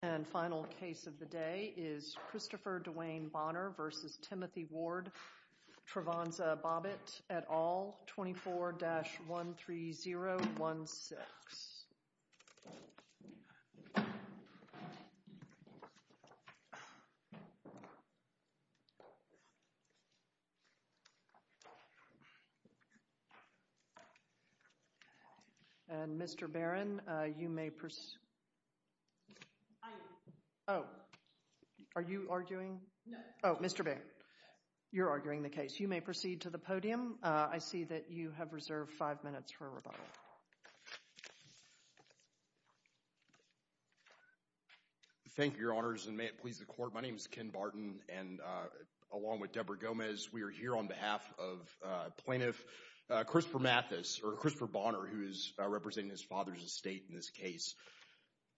Travonza Bobbitt et al. 24-13016. And, Mr. Barron, you may proceed to the podium. I see that you have reserved five minutes for rebuttal. Thank you, Your Honors, and may it please the Court, my name is Ken Barton, and along with Deborah Gomez, we are here on behalf of Plaintiff Christopher Mathis, or Christopher Bonner, who is representing his father's estate in this case.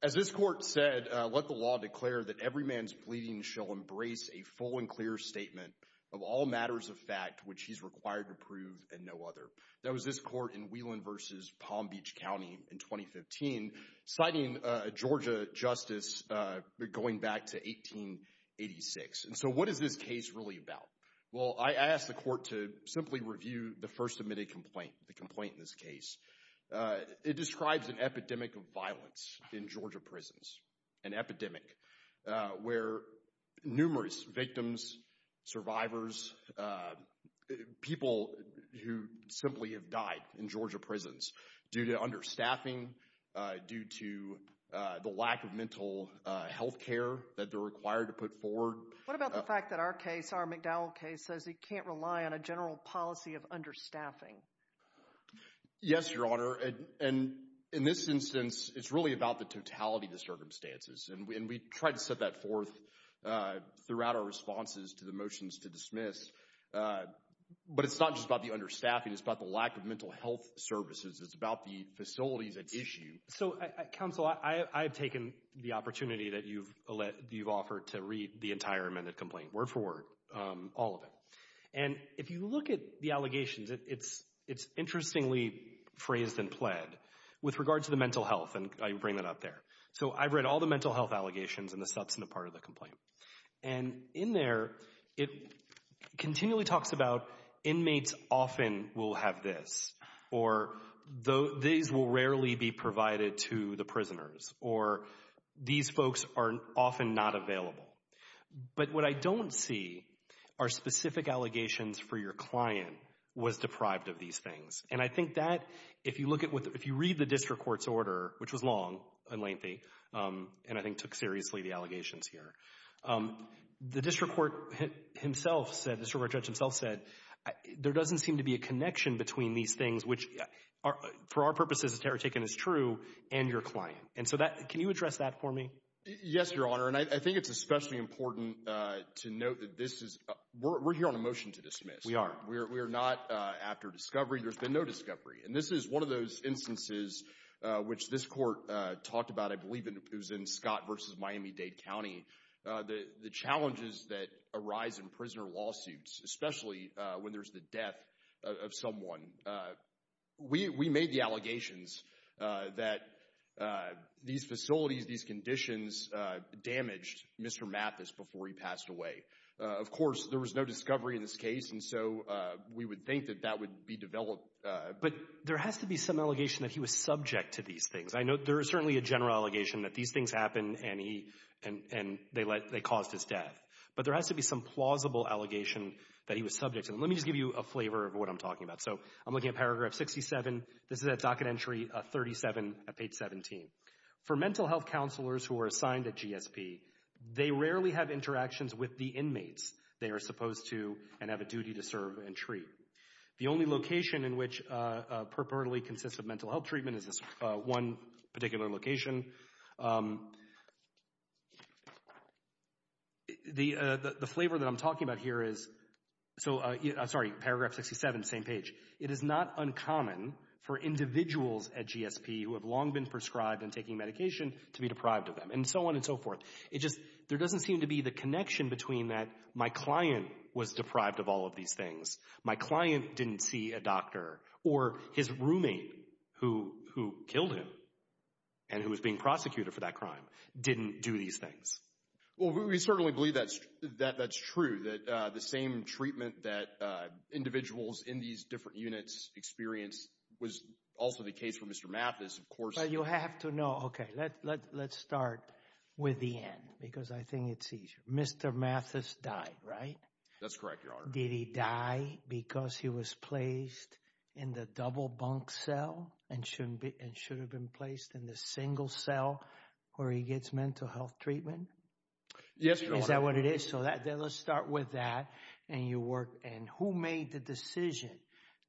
As this Court said, let the law declare that every man's pleading shall embrace a full and clear statement of all matters of fact which he's required to prove and no other. That was this Court in Wheelan v. Palm Beach County in 2015, citing a Georgia justice going back to 1886. And so what is this case really about? Well, I asked the Court to simply review the first submitted complaint, the complaint in this case. It describes an epidemic of violence in Georgia prisons, an epidemic where numerous victims, survivors, people who simply have died in Georgia prisons due to understaffing, due to the lack of mental health care that they're required to put forward. What about the fact that our case, our McDowell case, says it can't rely on a general policy of understaffing? Yes, Your Honor, and in this instance, it's really about the totality of the circumstances. And we try to set that forth throughout our responses to the motions to dismiss. But it's not just about the understaffing, it's about the lack of mental health services, it's about the facilities at issue. So, Counsel, I've taken the opportunity that you've offered to read the entire amended complaint, word for word, all of it. And if you look at the allegations, it's interestingly phrased and pled with regard to the mental health, and I bring that up there. So I've read all the mental health allegations and the substantive part of the complaint. And in there, it continually talks about inmates often will have this, or these will rarely be provided to the prisoners, or these folks are often not available. But what I don't see are specific allegations for your client was deprived of these things. And I think that, if you look at what, if you read the district court's order, which was long and lengthy, and I think took seriously the allegations here, the district court himself said, the district court judge himself said, there doesn't seem to be a connection between these things, which for our purposes, the terror taken is true, and your client. And so that, can you address that for me? Yes, your honor. And I think it's especially important to note that this is, we're here on a motion to dismiss. We are. We're not after discovery. There's been no discovery. And this is one of those instances which this court talked about, I believe it was in Scott versus Miami-Dade County, the challenges that arise in prisoner lawsuits, especially when there's the death of someone. And we made the allegations that these facilities, these conditions damaged Mr. Mathis before he passed away. Of course, there was no discovery in this case, and so we would think that that would be developed. But there has to be some allegation that he was subject to these things. I know there is certainly a general allegation that these things happened and he, and they let, they caused his death. But there has to be some plausible allegation that he was subject to them. Let me just give you a flavor of what I'm talking about. So, I'm looking at paragraph 67. This is at docket entry 37 at page 17. For mental health counselors who are assigned at GSP, they rarely have interactions with the inmates they are supposed to and have a duty to serve and treat. The only location in which purportedly consists of mental health treatment is this one particular location. The flavor that I'm talking about here is, so, sorry, paragraph 67, same page. It is not uncommon for individuals at GSP who have long been prescribed and taking medication to be deprived of them, and so on and so forth. It just, there doesn't seem to be the connection between that my client was deprived of all of these things, my client didn't see a doctor, or his roommate who killed him and who was being prosecuted for that crime didn't do these things. Well, we certainly believe that's true, that the same treatment that individuals in these different units experience was also the case for Mr. Mathis, of course. Well, you have to know, okay, let's start with the end because I think it's easier. Mr. Mathis died, right? That's correct, Your Honor. Did he die because he was placed in the double bunk cell and should have been placed in the single cell where he gets mental health treatment? Yes, Your Honor. Is that what it is? Okay. So, let's start with that, and who made the decision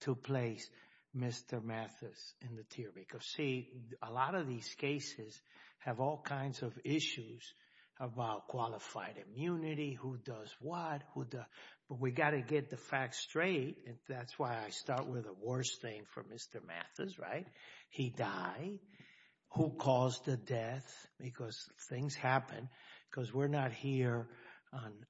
to place Mr. Mathis in the tier? Because, see, a lot of these cases have all kinds of issues about qualified immunity, who does what, but we got to get the facts straight. That's why I start with the worst thing for Mr. Mathis, right? He died, who caused the death, because things happen, because we're not here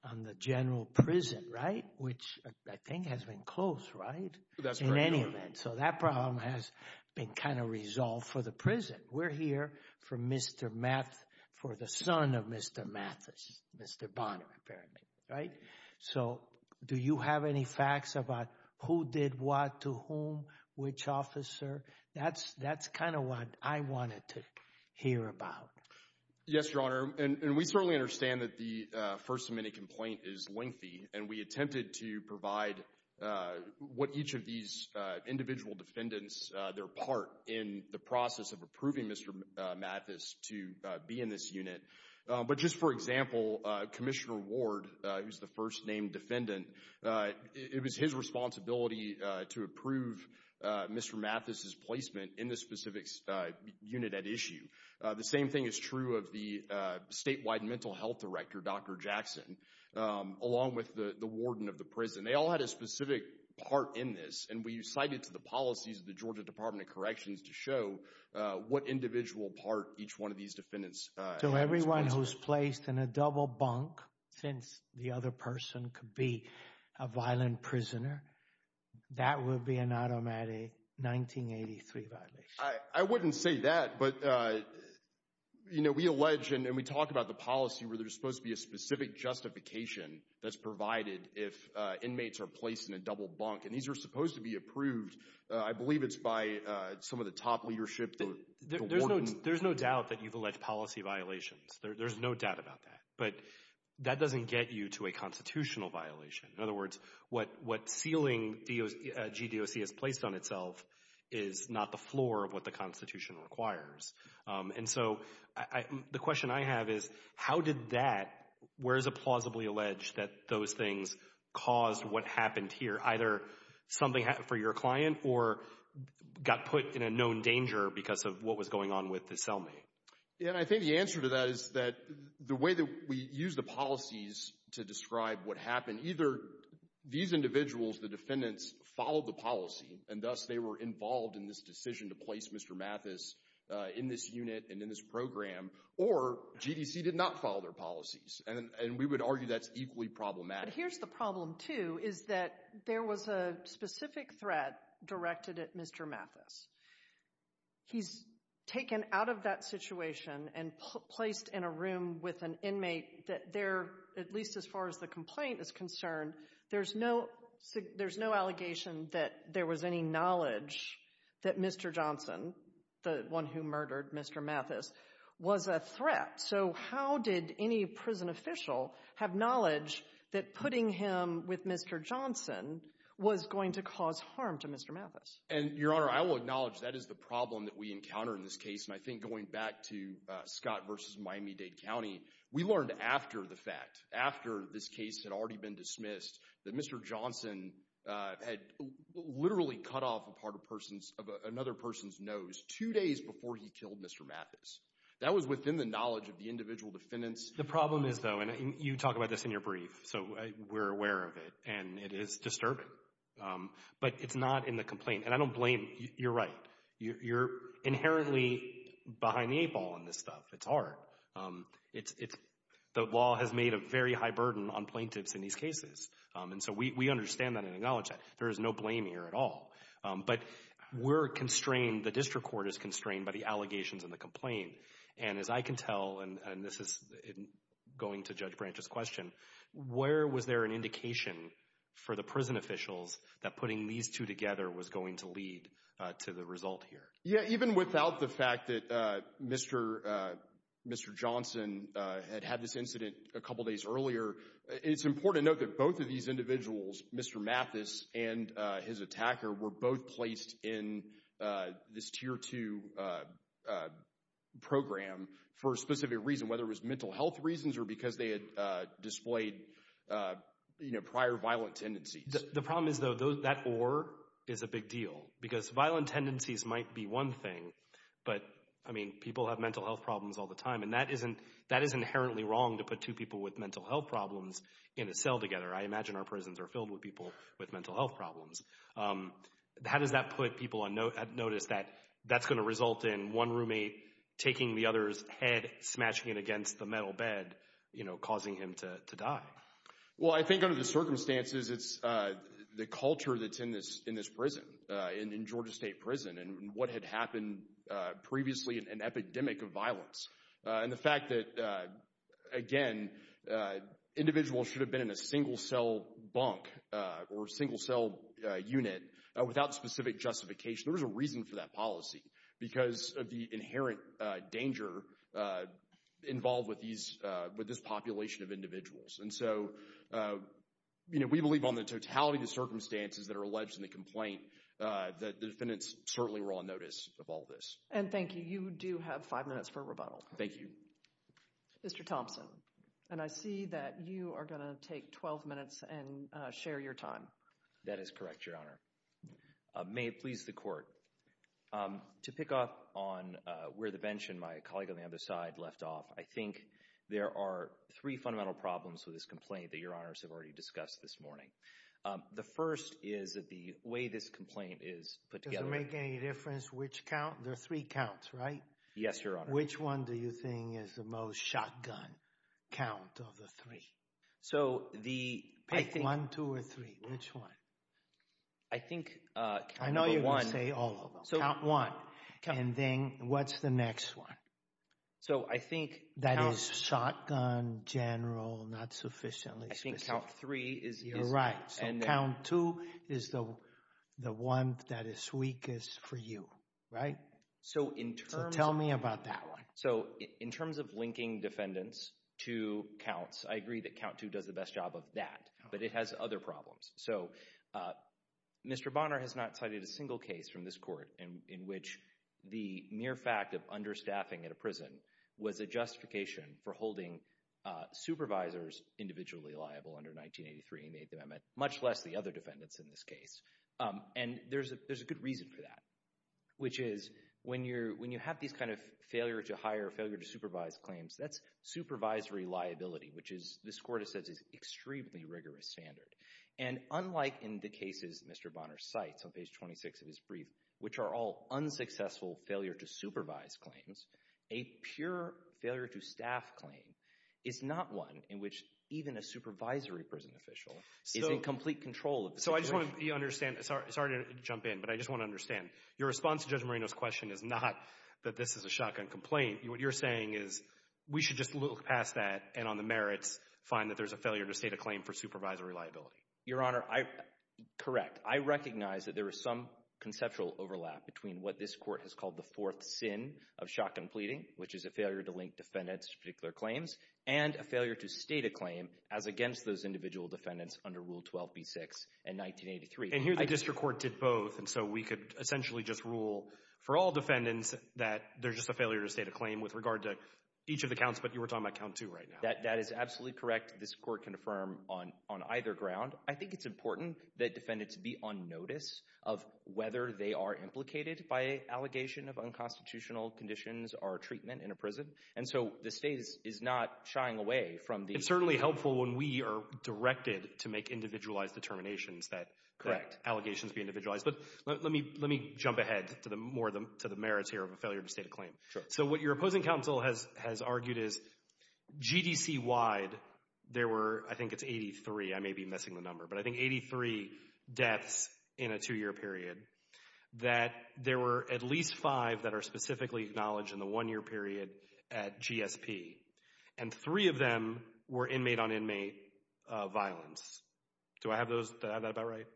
on the general prison, right, which I think has been closed, right, in any event. So that problem has been kind of resolved for the prison. We're here for Mr. Mathis, for the son of Mr. Mathis, Mr. Bonner, apparently, right? So do you have any facts about who did what to whom, which officer? That's kind of what I wanted to hear about. Yes, Your Honor, and we certainly understand that the First Amendment complaint is lengthy and we attempted to provide what each of these individual defendants, their part in the process of approving Mr. Mathis to be in this unit, but just for example, Commissioner Ward, who's the first named defendant, it was his responsibility to approve Mr. Mathis's placement in this specific unit at issue. The same thing is true of the statewide mental health director, Dr. Jackson, along with the warden of the prison. They all had a specific part in this, and we cited to the policies of the Georgia Department of Corrections to show what individual part each one of these defendants had. So everyone who's placed in a double bunk, since the other person could be a violent prisoner, that would be an automatic 1983 violation? I wouldn't say that, but, you know, we allege, and we talk about the policy where there's supposed to be a specific justification that's provided if inmates are placed in a double bunk, and these are supposed to be approved, I believe it's by some of the top leadership. There's no doubt that you've alleged policy violations. There's no doubt about that, but that doesn't get you to a constitutional violation. In other words, what ceiling GDOC has placed on itself is not the floor of what the Constitution requires. And so the question I have is, how did that, where is it plausibly alleged that those things caused what happened here, either something happened for your client or got put in a known danger because of what was going on with the cellmate? And I think the answer to that is that the way that we use the policies to describe what happened, either these individuals, the defendants, followed the policy, and thus they were involved in this decision to place Mr. Mathis in this unit and in this program, or GDC did not follow their policies, and we would argue that's equally problematic. But here's the problem, too, is that there was a specific threat directed at Mr. Mathis. He's taken out of that situation and placed in a room with an inmate that there, at least as far as the complaint is concerned, there's no allegation that there was any knowledge that Mr. Johnson, the one who murdered Mr. Mathis, was a threat. So how did any prison official have knowledge that putting him with Mr. Johnson was going to cause harm to Mr. Mathis? And Your Honor, I will acknowledge that is the problem that we encounter in this case, and I think going back to Scott versus Miami-Dade County, we learned after the fact, after this case had already been dismissed, that Mr. Johnson had literally cut off a part of another person's nose two days before he killed Mr. Mathis. That was within the knowledge of the individual defendants. The problem is, though, and you talk about this in your brief, so we're aware of it, and it is disturbing. But it's not in the complaint, and I don't blame, you're right. You're inherently behind the eight ball on this stuff, it's hard. The law has made a very high burden on plaintiffs in these cases, and so we understand that and acknowledge that. There is no blame here at all. But we're constrained, the district court is constrained by the allegations in the complaint. And as I can tell, and this is going to Judge Branch's question, where was there an indication for the prison officials that putting these two together was going to lead to the result here? Yeah, even without the fact that Mr. Johnson had had this incident a couple days earlier, it's important to note that both of these individuals, Mr. Mathis and his attacker, were both placed in this Tier 2 program for a specific reason, whether it was mental health reasons or because they had displayed, you know, prior violent tendencies. The problem is, though, that or is a big deal. Because violent tendencies might be one thing, but, I mean, people have mental health problems all the time, and that is inherently wrong to put two people with mental health problems in a cell together. I imagine our prisons are filled with people with mental health problems. How does that put people on notice that that's going to result in one roommate taking the other's head, smashing it against the metal bed, you know, causing him to die? Well, I think under the circumstances, it's the culture that's in this prison, in Georgia that happened previously in an epidemic of violence. And the fact that, again, individuals should have been in a single cell bunk or single cell unit without specific justification, there was a reason for that policy because of the inherent danger involved with these, with this population of individuals. And so, you know, we believe on the totality of the circumstances that are alleged in the case of all this. And thank you. You do have five minutes for a rebuttal. Thank you. Mr. Thompson, and I see that you are going to take 12 minutes and share your time. That is correct, Your Honor. May it please the Court. To pick up on where the bench and my colleague on the other side left off, I think there are three fundamental problems with this complaint that Your Honors have already discussed this morning. The first is that the way this complaint is put together— Does it make any difference which count? There are three counts, right? Yes, Your Honor. Which one do you think is the most shotgun count of the three? So the— Pick one, two, or three. Which one? I think count number one— I know you're going to say all of them. Count one. And then what's the next one? So I think— That is shotgun, general, not sufficiently specific. I think count three is— You're right. So count two is the one that is weakest for you, right? So in terms of— So tell me about that one. So in terms of linking defendants to counts, I agree that count two does the best job of that, but it has other problems. So Mr. Bonner has not cited a single case from this Court in which the mere fact of understaffing at a prison was a justification for holding supervisors individually liable under 1983 in the Eighth Amendment, much less the other defendants in this case. And there's a good reason for that, which is when you have these kind of failure to hire, failure to supervise claims, that's supervisory liability, which this Court has said is an extremely rigorous standard. And unlike in the cases Mr. Bonner cites on page 26 of his brief, which are all unsuccessful failure to supervise claims, a pure failure to staff claim is not one in which even a supervisory prison official is in complete control of the situation. So I just want to—you understand—sorry to jump in, but I just want to understand. Your response to Judge Marino's question is not that this is a shotgun complaint. What you're saying is we should just look past that and on the merits find that there's a failure to state a claim for supervisory liability. Your Honor, I—correct. I recognize that there is some conceptual overlap between what this Court has called the fourth sin of shotgun pleading, which is a failure to link defendants to particular claims, and a failure to state a claim as against those individual defendants under Rule 12b-6 in 1983. And here the district court did both, and so we could essentially just rule for all defendants that there's just a failure to state a claim with regard to each of the counts, but you were talking about count two right now. That is absolutely correct. This Court can affirm on either ground. I think it's important that defendants be on notice of whether they are implicated by allegation of unconstitutional conditions or treatment in a prison. And so the State is not shying away from the— It's certainly helpful when we are directed to make individualized determinations that— Correct. —allegations be individualized. But let me jump ahead to the merits here of a failure to state a claim. Sure. So what your opposing counsel has argued is, GDC-wide, there were—I think it's 83, I may be missing the number, but I think 83 deaths in a two-year period, that there were at least five that are specifically acknowledged in the one-year period at GSP. And three of them were inmate-on-inmate violence. Do I have that about right?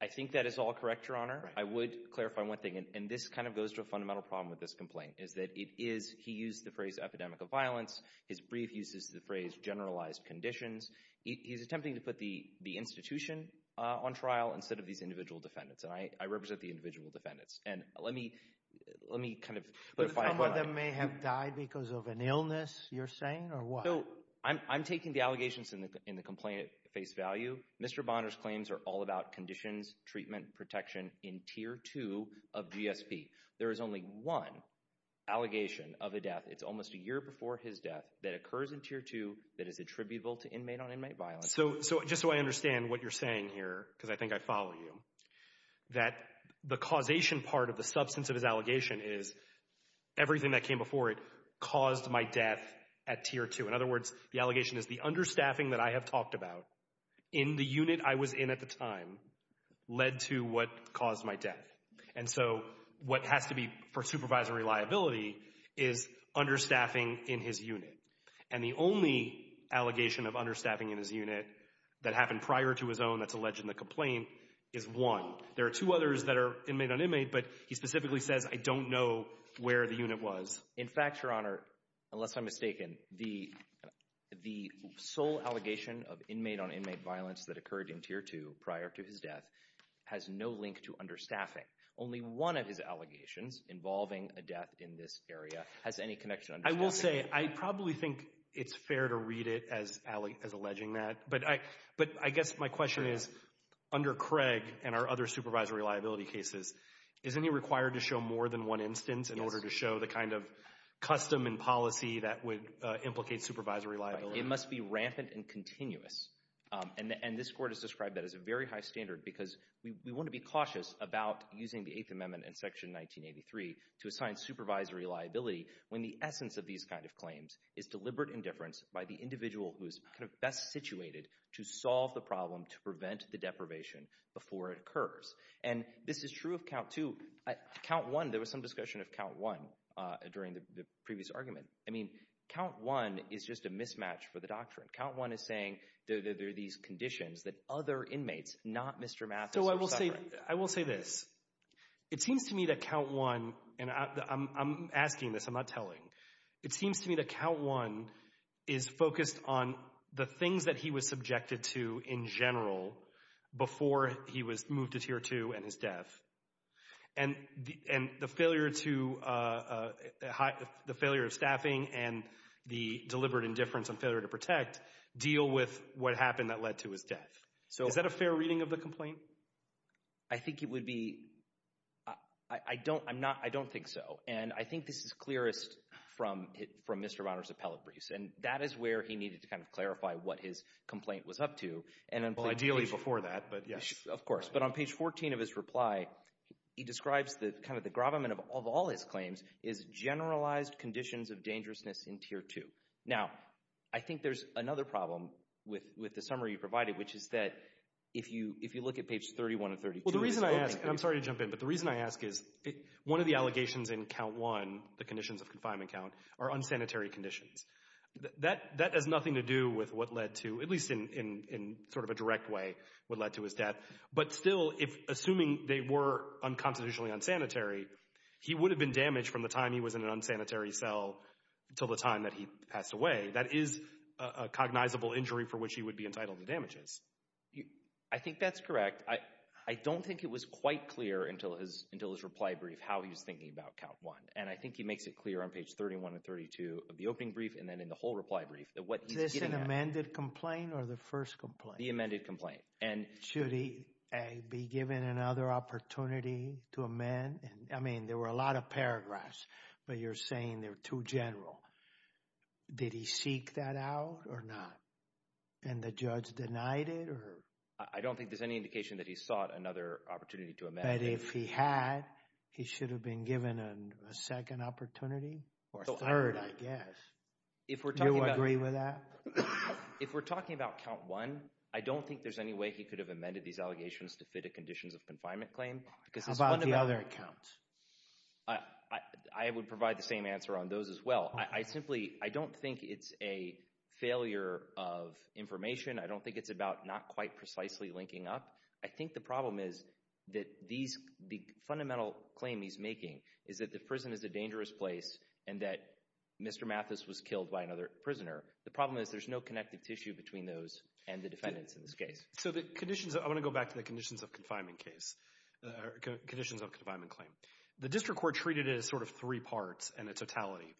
I think that is all correct, Your Honor. I would clarify one thing, and this kind of goes to a fundamental problem with this complaint, is that it is—he used the phrase epidemic of violence, his brief uses the phrase generalized conditions. He's attempting to put the institution on trial instead of these individual defendants, and I represent the individual defendants. And let me—let me kind of— But some of them may have died because of an illness, you're saying, or what? I'm taking the allegations in the complaint at face value. Mr. Bonner's claims are all about conditions, treatment, protection in Tier 2 of GSP. There is only one allegation of a death, it's almost a year before his death, that occurs in Tier 2 that is attributable to inmate-on-inmate violence. So just so I understand what you're saying here, because I think I follow you, that the causation part of the substance of his allegation is everything that came before it caused my death at Tier 2. In other words, the allegation is the understaffing that I have talked about in the unit I was in at the time led to what caused my death. And so what has to be for supervisory liability is understaffing in his unit. And the only allegation of understaffing in his unit that happened prior to his own that's alleged in the complaint is one. There are two others that are inmate-on-inmate, but he specifically says, I don't know where the unit was. In fact, Your Honor, unless I'm mistaken, the sole allegation of inmate-on-inmate violence that occurred in Tier 2 prior to his death has no link to understaffing. Only one of his allegations involving a death in this area has any connection to understaffing. I will say, I probably think it's fair to read it as alleging that, but I guess my question is, under Craig and our other supervisory liability cases, is any required to show more than one instance in order to show the kind of custom and policy that would implicate supervisory liability? It must be rampant and continuous. And this Court has described that as a very high standard because we want to be cautious about using the Eighth Amendment and Section 1983 to assign supervisory liability when the essence of these kind of claims is deliberate indifference by the individual who is best situated to solve the problem, to prevent the deprivation before it occurs. And this is true of Count 2. Count 1, there was some discussion of Count 1 during the previous argument. I mean, Count 1 is just a mismatch for the doctrine. Count 1 is saying there are these conditions that other inmates, not Mr. Mathis, are suffering. I will say this. It seems to me that Count 1, and I'm asking this, I'm not telling, it seems to me that Count 1 is focused on the things that he was subjected to in general before he was moved to Tier 2 and his death. And the failure of staffing and the deliberate indifference and failure to protect deal with what happened that led to his death. So is that a fair reading of the complaint? I think it would be, I don't, I'm not, I don't think so. And I think this is clearest from Mr. Mouner's appellate briefs. And that is where he needed to kind of clarify what his complaint was up to. And ideally before that, but yes. Of course. But on page 14 of his reply, he describes that kind of the gravamen of all his claims is generalized conditions of dangerousness in Tier 2. Now, I think there's another problem with the summary you provided, which is that if you, if you look at page 31 and 32, the reason I ask, and I'm sorry to jump in, but the reason I ask is one of the allegations in count one, the conditions of confinement count, are unsanitary conditions. That has nothing to do with what led to, at least in sort of a direct way, what led to his death. But still, if, assuming they were unconstitutionally unsanitary, he would have been damaged from the time he was in an unsanitary cell until the time that he passed away. That is a cognizable injury for which he would be entitled to damages. I think that's correct. I don't think it was quite clear until his, until his reply brief how he was thinking about count one. And I think he makes it clear on page 31 and 32 of the opening brief and then in the whole reply brief that what he's getting at. Is this an amended complaint or the first complaint? The amended complaint. And should he, A, be given another opportunity to amend? I mean, there were a lot of paragraphs, but you're saying they're too general. Did he seek that out or not? And the judge denied it or? I don't think there's any indication that he sought another opportunity to amend. But if he had, he should have been given a second opportunity or a third, I guess. If we're talking about. Do you agree with that? If we're talking about count one, I don't think there's any way he could have amended these allegations to fit a conditions of confinement claim. Because it's one of the. How about the other counts? I would provide the same answer on those as well. I simply, I don't think it's a failure of information. I don't think it's about not quite precisely linking up. I think the problem is that these, the fundamental claim he's making is that the prison is a dangerous place and that Mr. Mathis was killed by another prisoner. The problem is there's no connective tissue between those and the defendants in this case. So the conditions. I want to go back to the conditions of confinement case, conditions of confinement claim. The district court treated it as sort of three parts in its totality.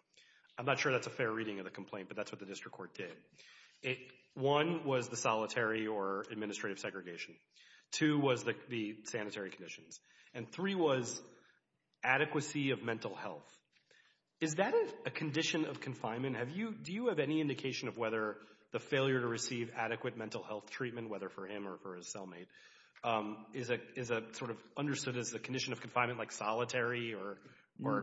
I'm not sure that's a fair reading of the complaint, but that's what the district court did. One was the solitary or administrative segregation. Two was the sanitary conditions. And three was adequacy of mental health. Is that a condition of confinement? Have you, do you have any indication of whether the failure to receive adequate mental health treatment, whether for him or for his cellmate, is a sort of understood as a condition of confinement like solitary or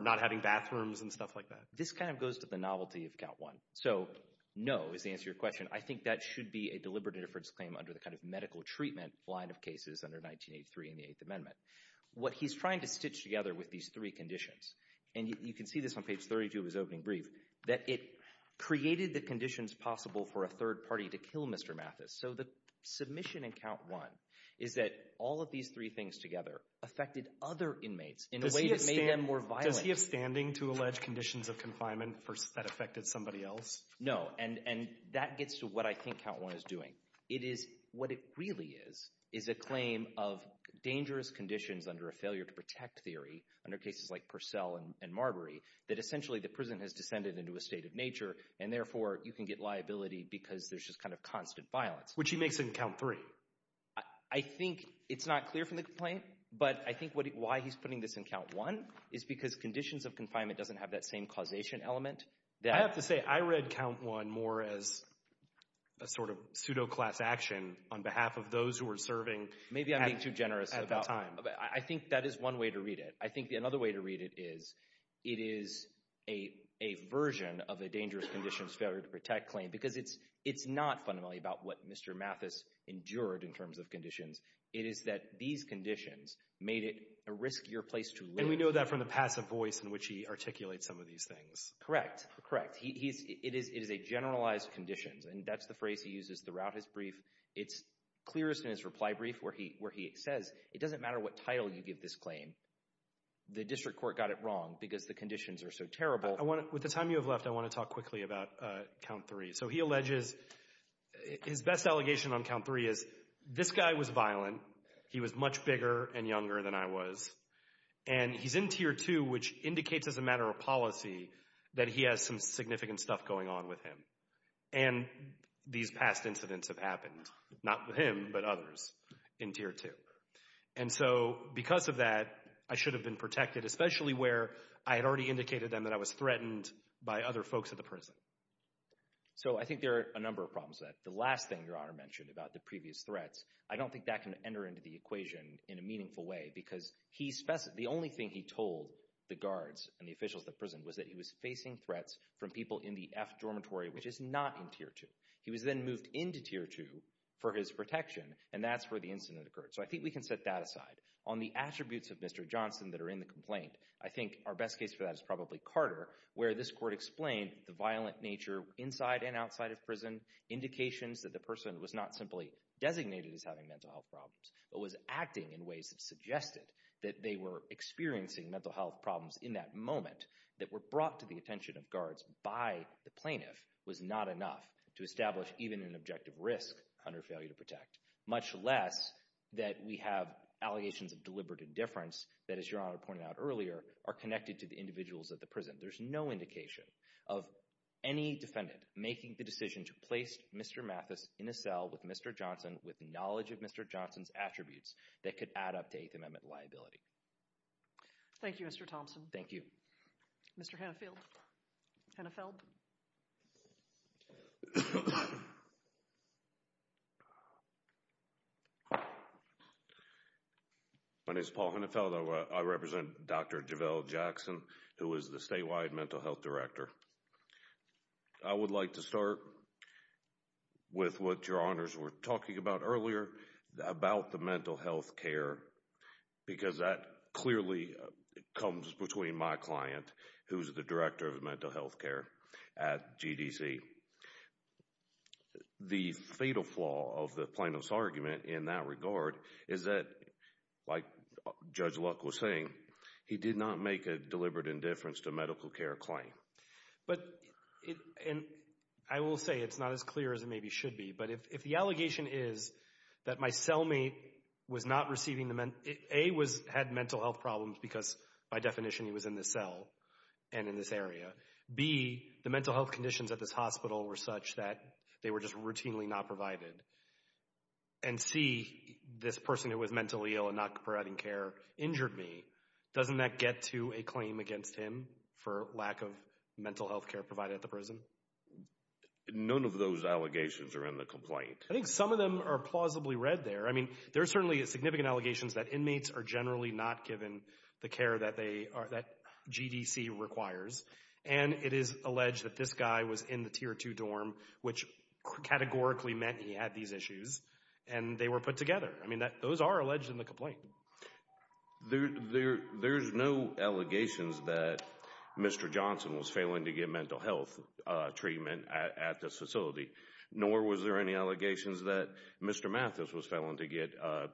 not having bathrooms and stuff like that? This kind of goes to the novelty of count one. So no is the answer to your question. I think that should be a deliberate interference claim under the kind of medical treatment line of cases under 1983 in the Eighth Amendment. What he's trying to stitch together with these three conditions, and you can see this on page 32 of his opening brief, that it created the conditions possible for a third party to kill Mr. Mathis. So the submission in count one is that all of these three things together affected other inmates in a way that made them more violent. Does he have standing to allege conditions of confinement that affected somebody else? And that gets to what I think count one is doing. It is, what it really is, is a claim of dangerous conditions under a failure to protect theory under cases like Purcell and Marbury that essentially the prison has descended into a state of nature and therefore you can get liability because there's just kind of constant violence. Which he makes in count three. I think it's not clear from the complaint, but I think why he's putting this in count one is because conditions of confinement doesn't have that same causation element. I have to say, I read count one more as a sort of pseudo-class action on behalf of those who were serving at that time. Maybe I'm being too generous. I think that is one way to read it. I think another way to read it is it is a version of a dangerous conditions failure to protect claim because it's not fundamentally about what Mr. Mathis endured in terms of conditions. It is that these conditions made it a riskier place to live. And we know that from the passive voice in which he articulates some of these things. Correct. Correct. It is a generalized conditions and that's the phrase he uses throughout his brief. It's clear in his reply brief where he says, it doesn't matter what title you give this claim. The district court got it wrong because the conditions are so terrible. With the time you have left, I want to talk quickly about count three. So he alleges, his best allegation on count three is this guy was violent. He was much bigger and younger than I was. And he's in tier two, which indicates as a matter of policy that he has some significant stuff going on with him. And these past incidents have happened. Not with him, but others in tier two. And so because of that, I should have been protected, especially where I had already indicated then that I was threatened by other folks at the prison. So I think there are a number of problems with that. The last thing your honor mentioned about the previous threats, I don't think that can enter into the equation in a meaningful way because the only thing he told the guards and the officials at the prison was that he was facing threats from people in the F dormitory, which is not in tier two. He was then moved into tier two for his protection and that's where the incident occurred. So I think we can set that aside. On the attributes of Mr. Johnson that are in the complaint, I think our best case for that is probably Carter, where this court explained the violent nature inside and outside of prison, indications that the person was not simply designated as having mental health problems, but was acting in ways that suggested that they were experiencing mental health problems in that moment that were brought to the attention of guards by the plaintiff was not enough to establish even an objective risk under failure to protect, much less that we have allegations of deliberate indifference that, as your honor pointed out earlier, are connected to the individuals at the prison. There's no indication of any defendant making the decision to place Mr. Mathis in a cell with Mr. Johnson with knowledge of Mr. Johnson's attributes that could add up to eighth amendment liability. Thank you, Mr. Thompson. Thank you. Mr. Hannafield. Hannafeld. My name is Paul Hannafield. I represent Dr. Javelle Jackson, who is the statewide mental health director. I would like to start with what your honors were talking about earlier, about the mental health care, because that clearly comes between my client, who's the director of mental health care at GDC. The fatal flaw of the plaintiff's argument in that regard is that, like Judge Luck was saying, he did not make a deliberate indifference to medical care claim. But it, and I will say it's not as clear as it maybe should be, but if the allegation is that my cellmate was not receiving the, A, had mental health problems because by definition he was in this cell and in this area, B, the mental health conditions at this hospital were such that they were just routinely not provided, and C, this person who was mentally ill and not providing care injured me, doesn't that get to a claim against him for lack of mental health care provided at the prison? None of those allegations are in the complaint. I think some of them are plausibly read there. I mean, there are certainly significant allegations that inmates are generally not given the care that they are, that GDC requires, and it is alleged that this guy was in the Tier 2 dorm, which categorically meant he had these issues, and they were put together. I mean, those are alleged in the complaint. There's no allegations that Mr. Johnson was failing to get mental health treatment at this facility, nor was there any allegations that Mr. Mathis was failing to get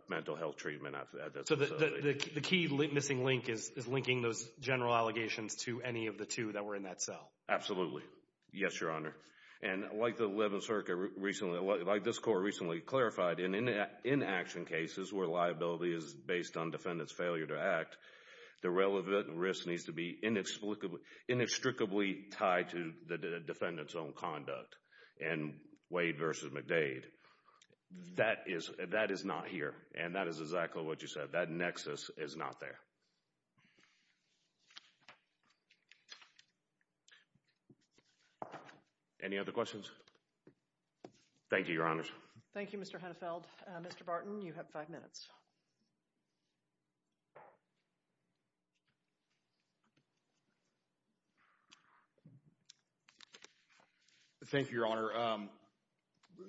mental health treatment at this facility. So the key missing link is linking those general allegations to any of the two that were in that cell? Absolutely. Yes, Your Honor. And like the 11th Circuit recently, like this court recently clarified, in inaction cases where liability is based on defendant's failure to act, the relevant risk needs to be inextricably tied to the defendant's own conduct in Wade versus McDade. That is not here, and that is exactly what you said. That nexus is not there. Any other questions? Thank you, Your Honors. Thank you, Mr. Hennefeld. Mr. Barton, you have five minutes. Thank you, Your Honor.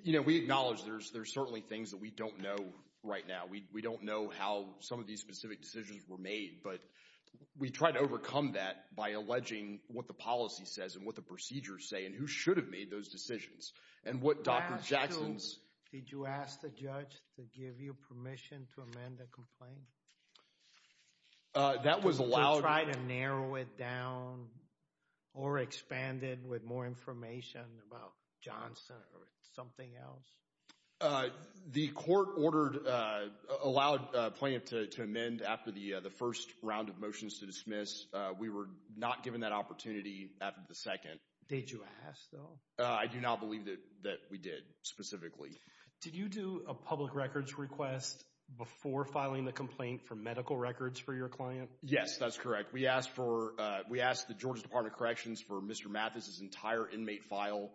You know, we acknowledge there's certainly things that we don't know right now. We don't know how some of these specific decisions were made, but we try to overcome that by alleging what the policy says and what the procedures say and who should have made those decisions and what Dr. Jackson's... Did you ask the judge to give you permission to amend the complaint? That was allowed... Did you try to narrow it down or expand it with more information about Johnson or something else? The court ordered, allowed plaintiff to amend after the first round of motions to dismiss. We were not given that opportunity after the second. Did you ask, though? I do not believe that we did, specifically. Did you do a public records request before filing the complaint for medical records for your client? Yes, that's correct. We asked for... We asked the Georgia Department of Corrections for Mr. Mathis's entire inmate file.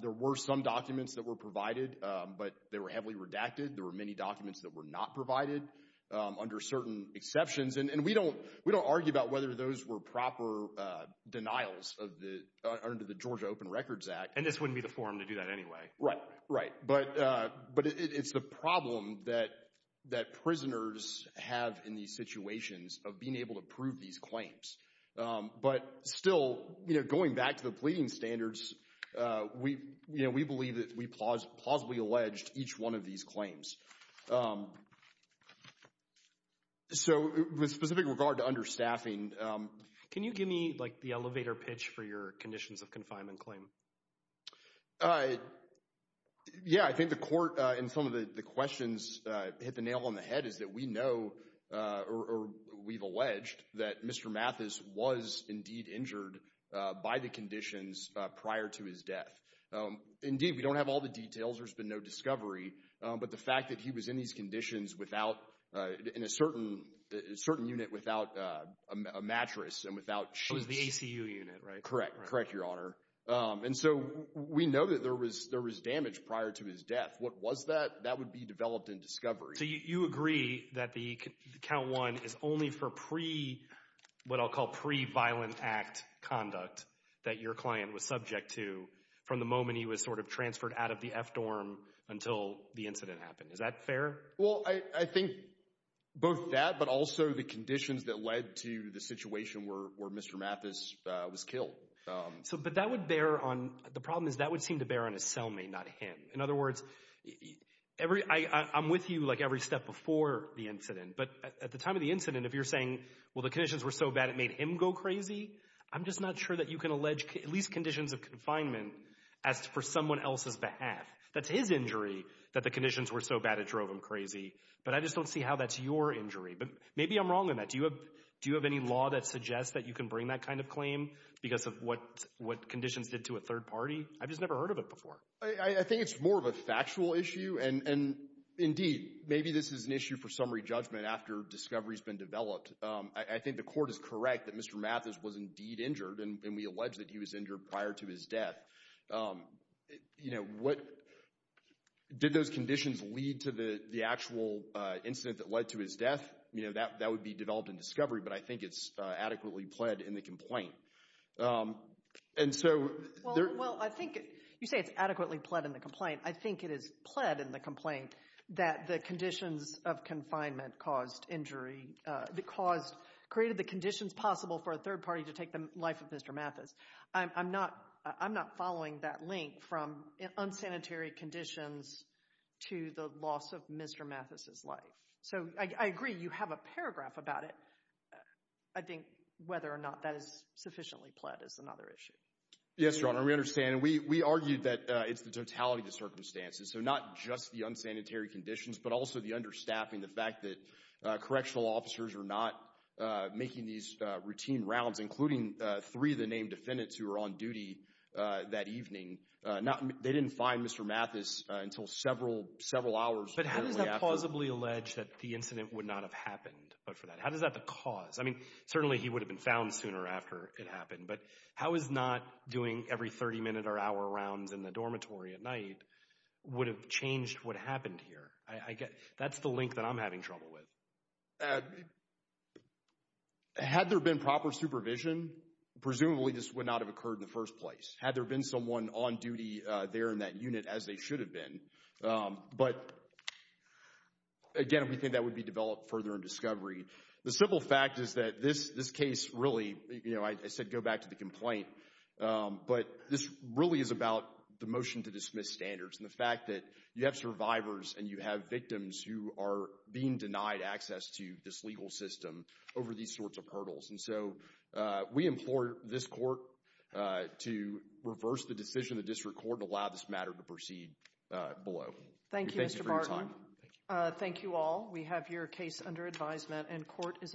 There were some documents that were provided, but they were heavily redacted. There were many documents that were not provided under certain exceptions, and we don't argue about whether those were proper denials under the Georgia Open Records Act. And this wouldn't be the forum to do that anyway. Right, right. But it's the problem that prisoners have in these situations of being able to prove these claims. But still, going back to the pleading standards, we believe that we plausibly alleged each one of these claims. So with specific regard to understaffing... Can you give me the elevator pitch for your conditions of confinement claim? Yeah, I think the court, and some of the questions hit the nail on the head, is that we know, or we've alleged, that Mr. Mathis was indeed injured by the conditions prior to his death. Indeed, we don't have all the details. There's been no discovery. But the fact that he was in these conditions in a certain unit without a mattress and without shoes... It was the ACU unit, right? Correct, correct, Your Honor. And so we know that there was damage prior to his death. What was that? That would be developed in discovery. So you agree that the Count 1 is only for what I'll call pre-Violent Act conduct that your client was subject to from the moment he was sort of transferred out of the F-Dorm until the incident happened. Is that fair? Well, I think both that, but also the conditions that led to the situation where Mr. Mathis was killed. But that would bear on... The problem is that would seem to bear on his cellmate, not him. In other words, I'm with you like every step before the incident, but at the time of the incident, if you're saying, well, the conditions were so bad it made him go crazy, I'm just not sure that you can allege at least conditions of confinement as for someone else's behalf. That's his injury that the conditions were so bad it drove him crazy, but I just don't see how that's your injury. But maybe I'm wrong on that. Do you have any law that suggests that you can bring that kind of claim because of what conditions did to a third party? I've just never heard of it before. I think it's more of a factual issue, and indeed, maybe this is an issue for summary judgment after discovery has been developed. I think the court is correct that Mr. Mathis was indeed injured, and we allege that he was injured prior to his death. Did those conditions lead to the actual incident that led to his death? That would be developed in discovery, but I think it's adequately pled in the complaint. And so... Well, I think you say it's adequately pled in the complaint. I think it is pled in the complaint that the conditions of confinement caused injury, created the conditions possible for a third party to take the life of Mr. Mathis. I'm not following that link from unsanitary conditions to the loss of Mr. Mathis's life. So, I agree, you have a paragraph about it. I think whether or not that is sufficiently pled is another issue. Yes, Your Honor, we understand. We argued that it's the totality of the circumstances, so not just the unsanitary conditions, but also the understaffing, the fact that correctional officers are not making these routine rounds, including three of the named defendants who were on duty that evening. They didn't find Mr. Mathis until several hours later. But how does that plausibly allege that the incident would not have happened? How does that cause? I mean, certainly he would have been found sooner after it happened, but how is not doing every 30 minute or hour rounds in the dormitory at night would have changed what happened here? That's the link that I'm having trouble with. Had there been proper supervision, presumably this would not have occurred in the first place. Had there been someone on duty there in that unit, as they should have been. But again, we think that would be developed further in discovery. The simple fact is that this case really, you know, I said go back to the complaint, but this really is about the motion to dismiss standards and the fact that you have survivors and you have victims who are being denied access to this legal system over these sorts of hurdles. And so we implore this court to reverse the decision of the district court and allow this matter to proceed below. Thank you, Mr. Barton. Thank you for your time. Thank you all. We have your case under advisement and court is adjourned.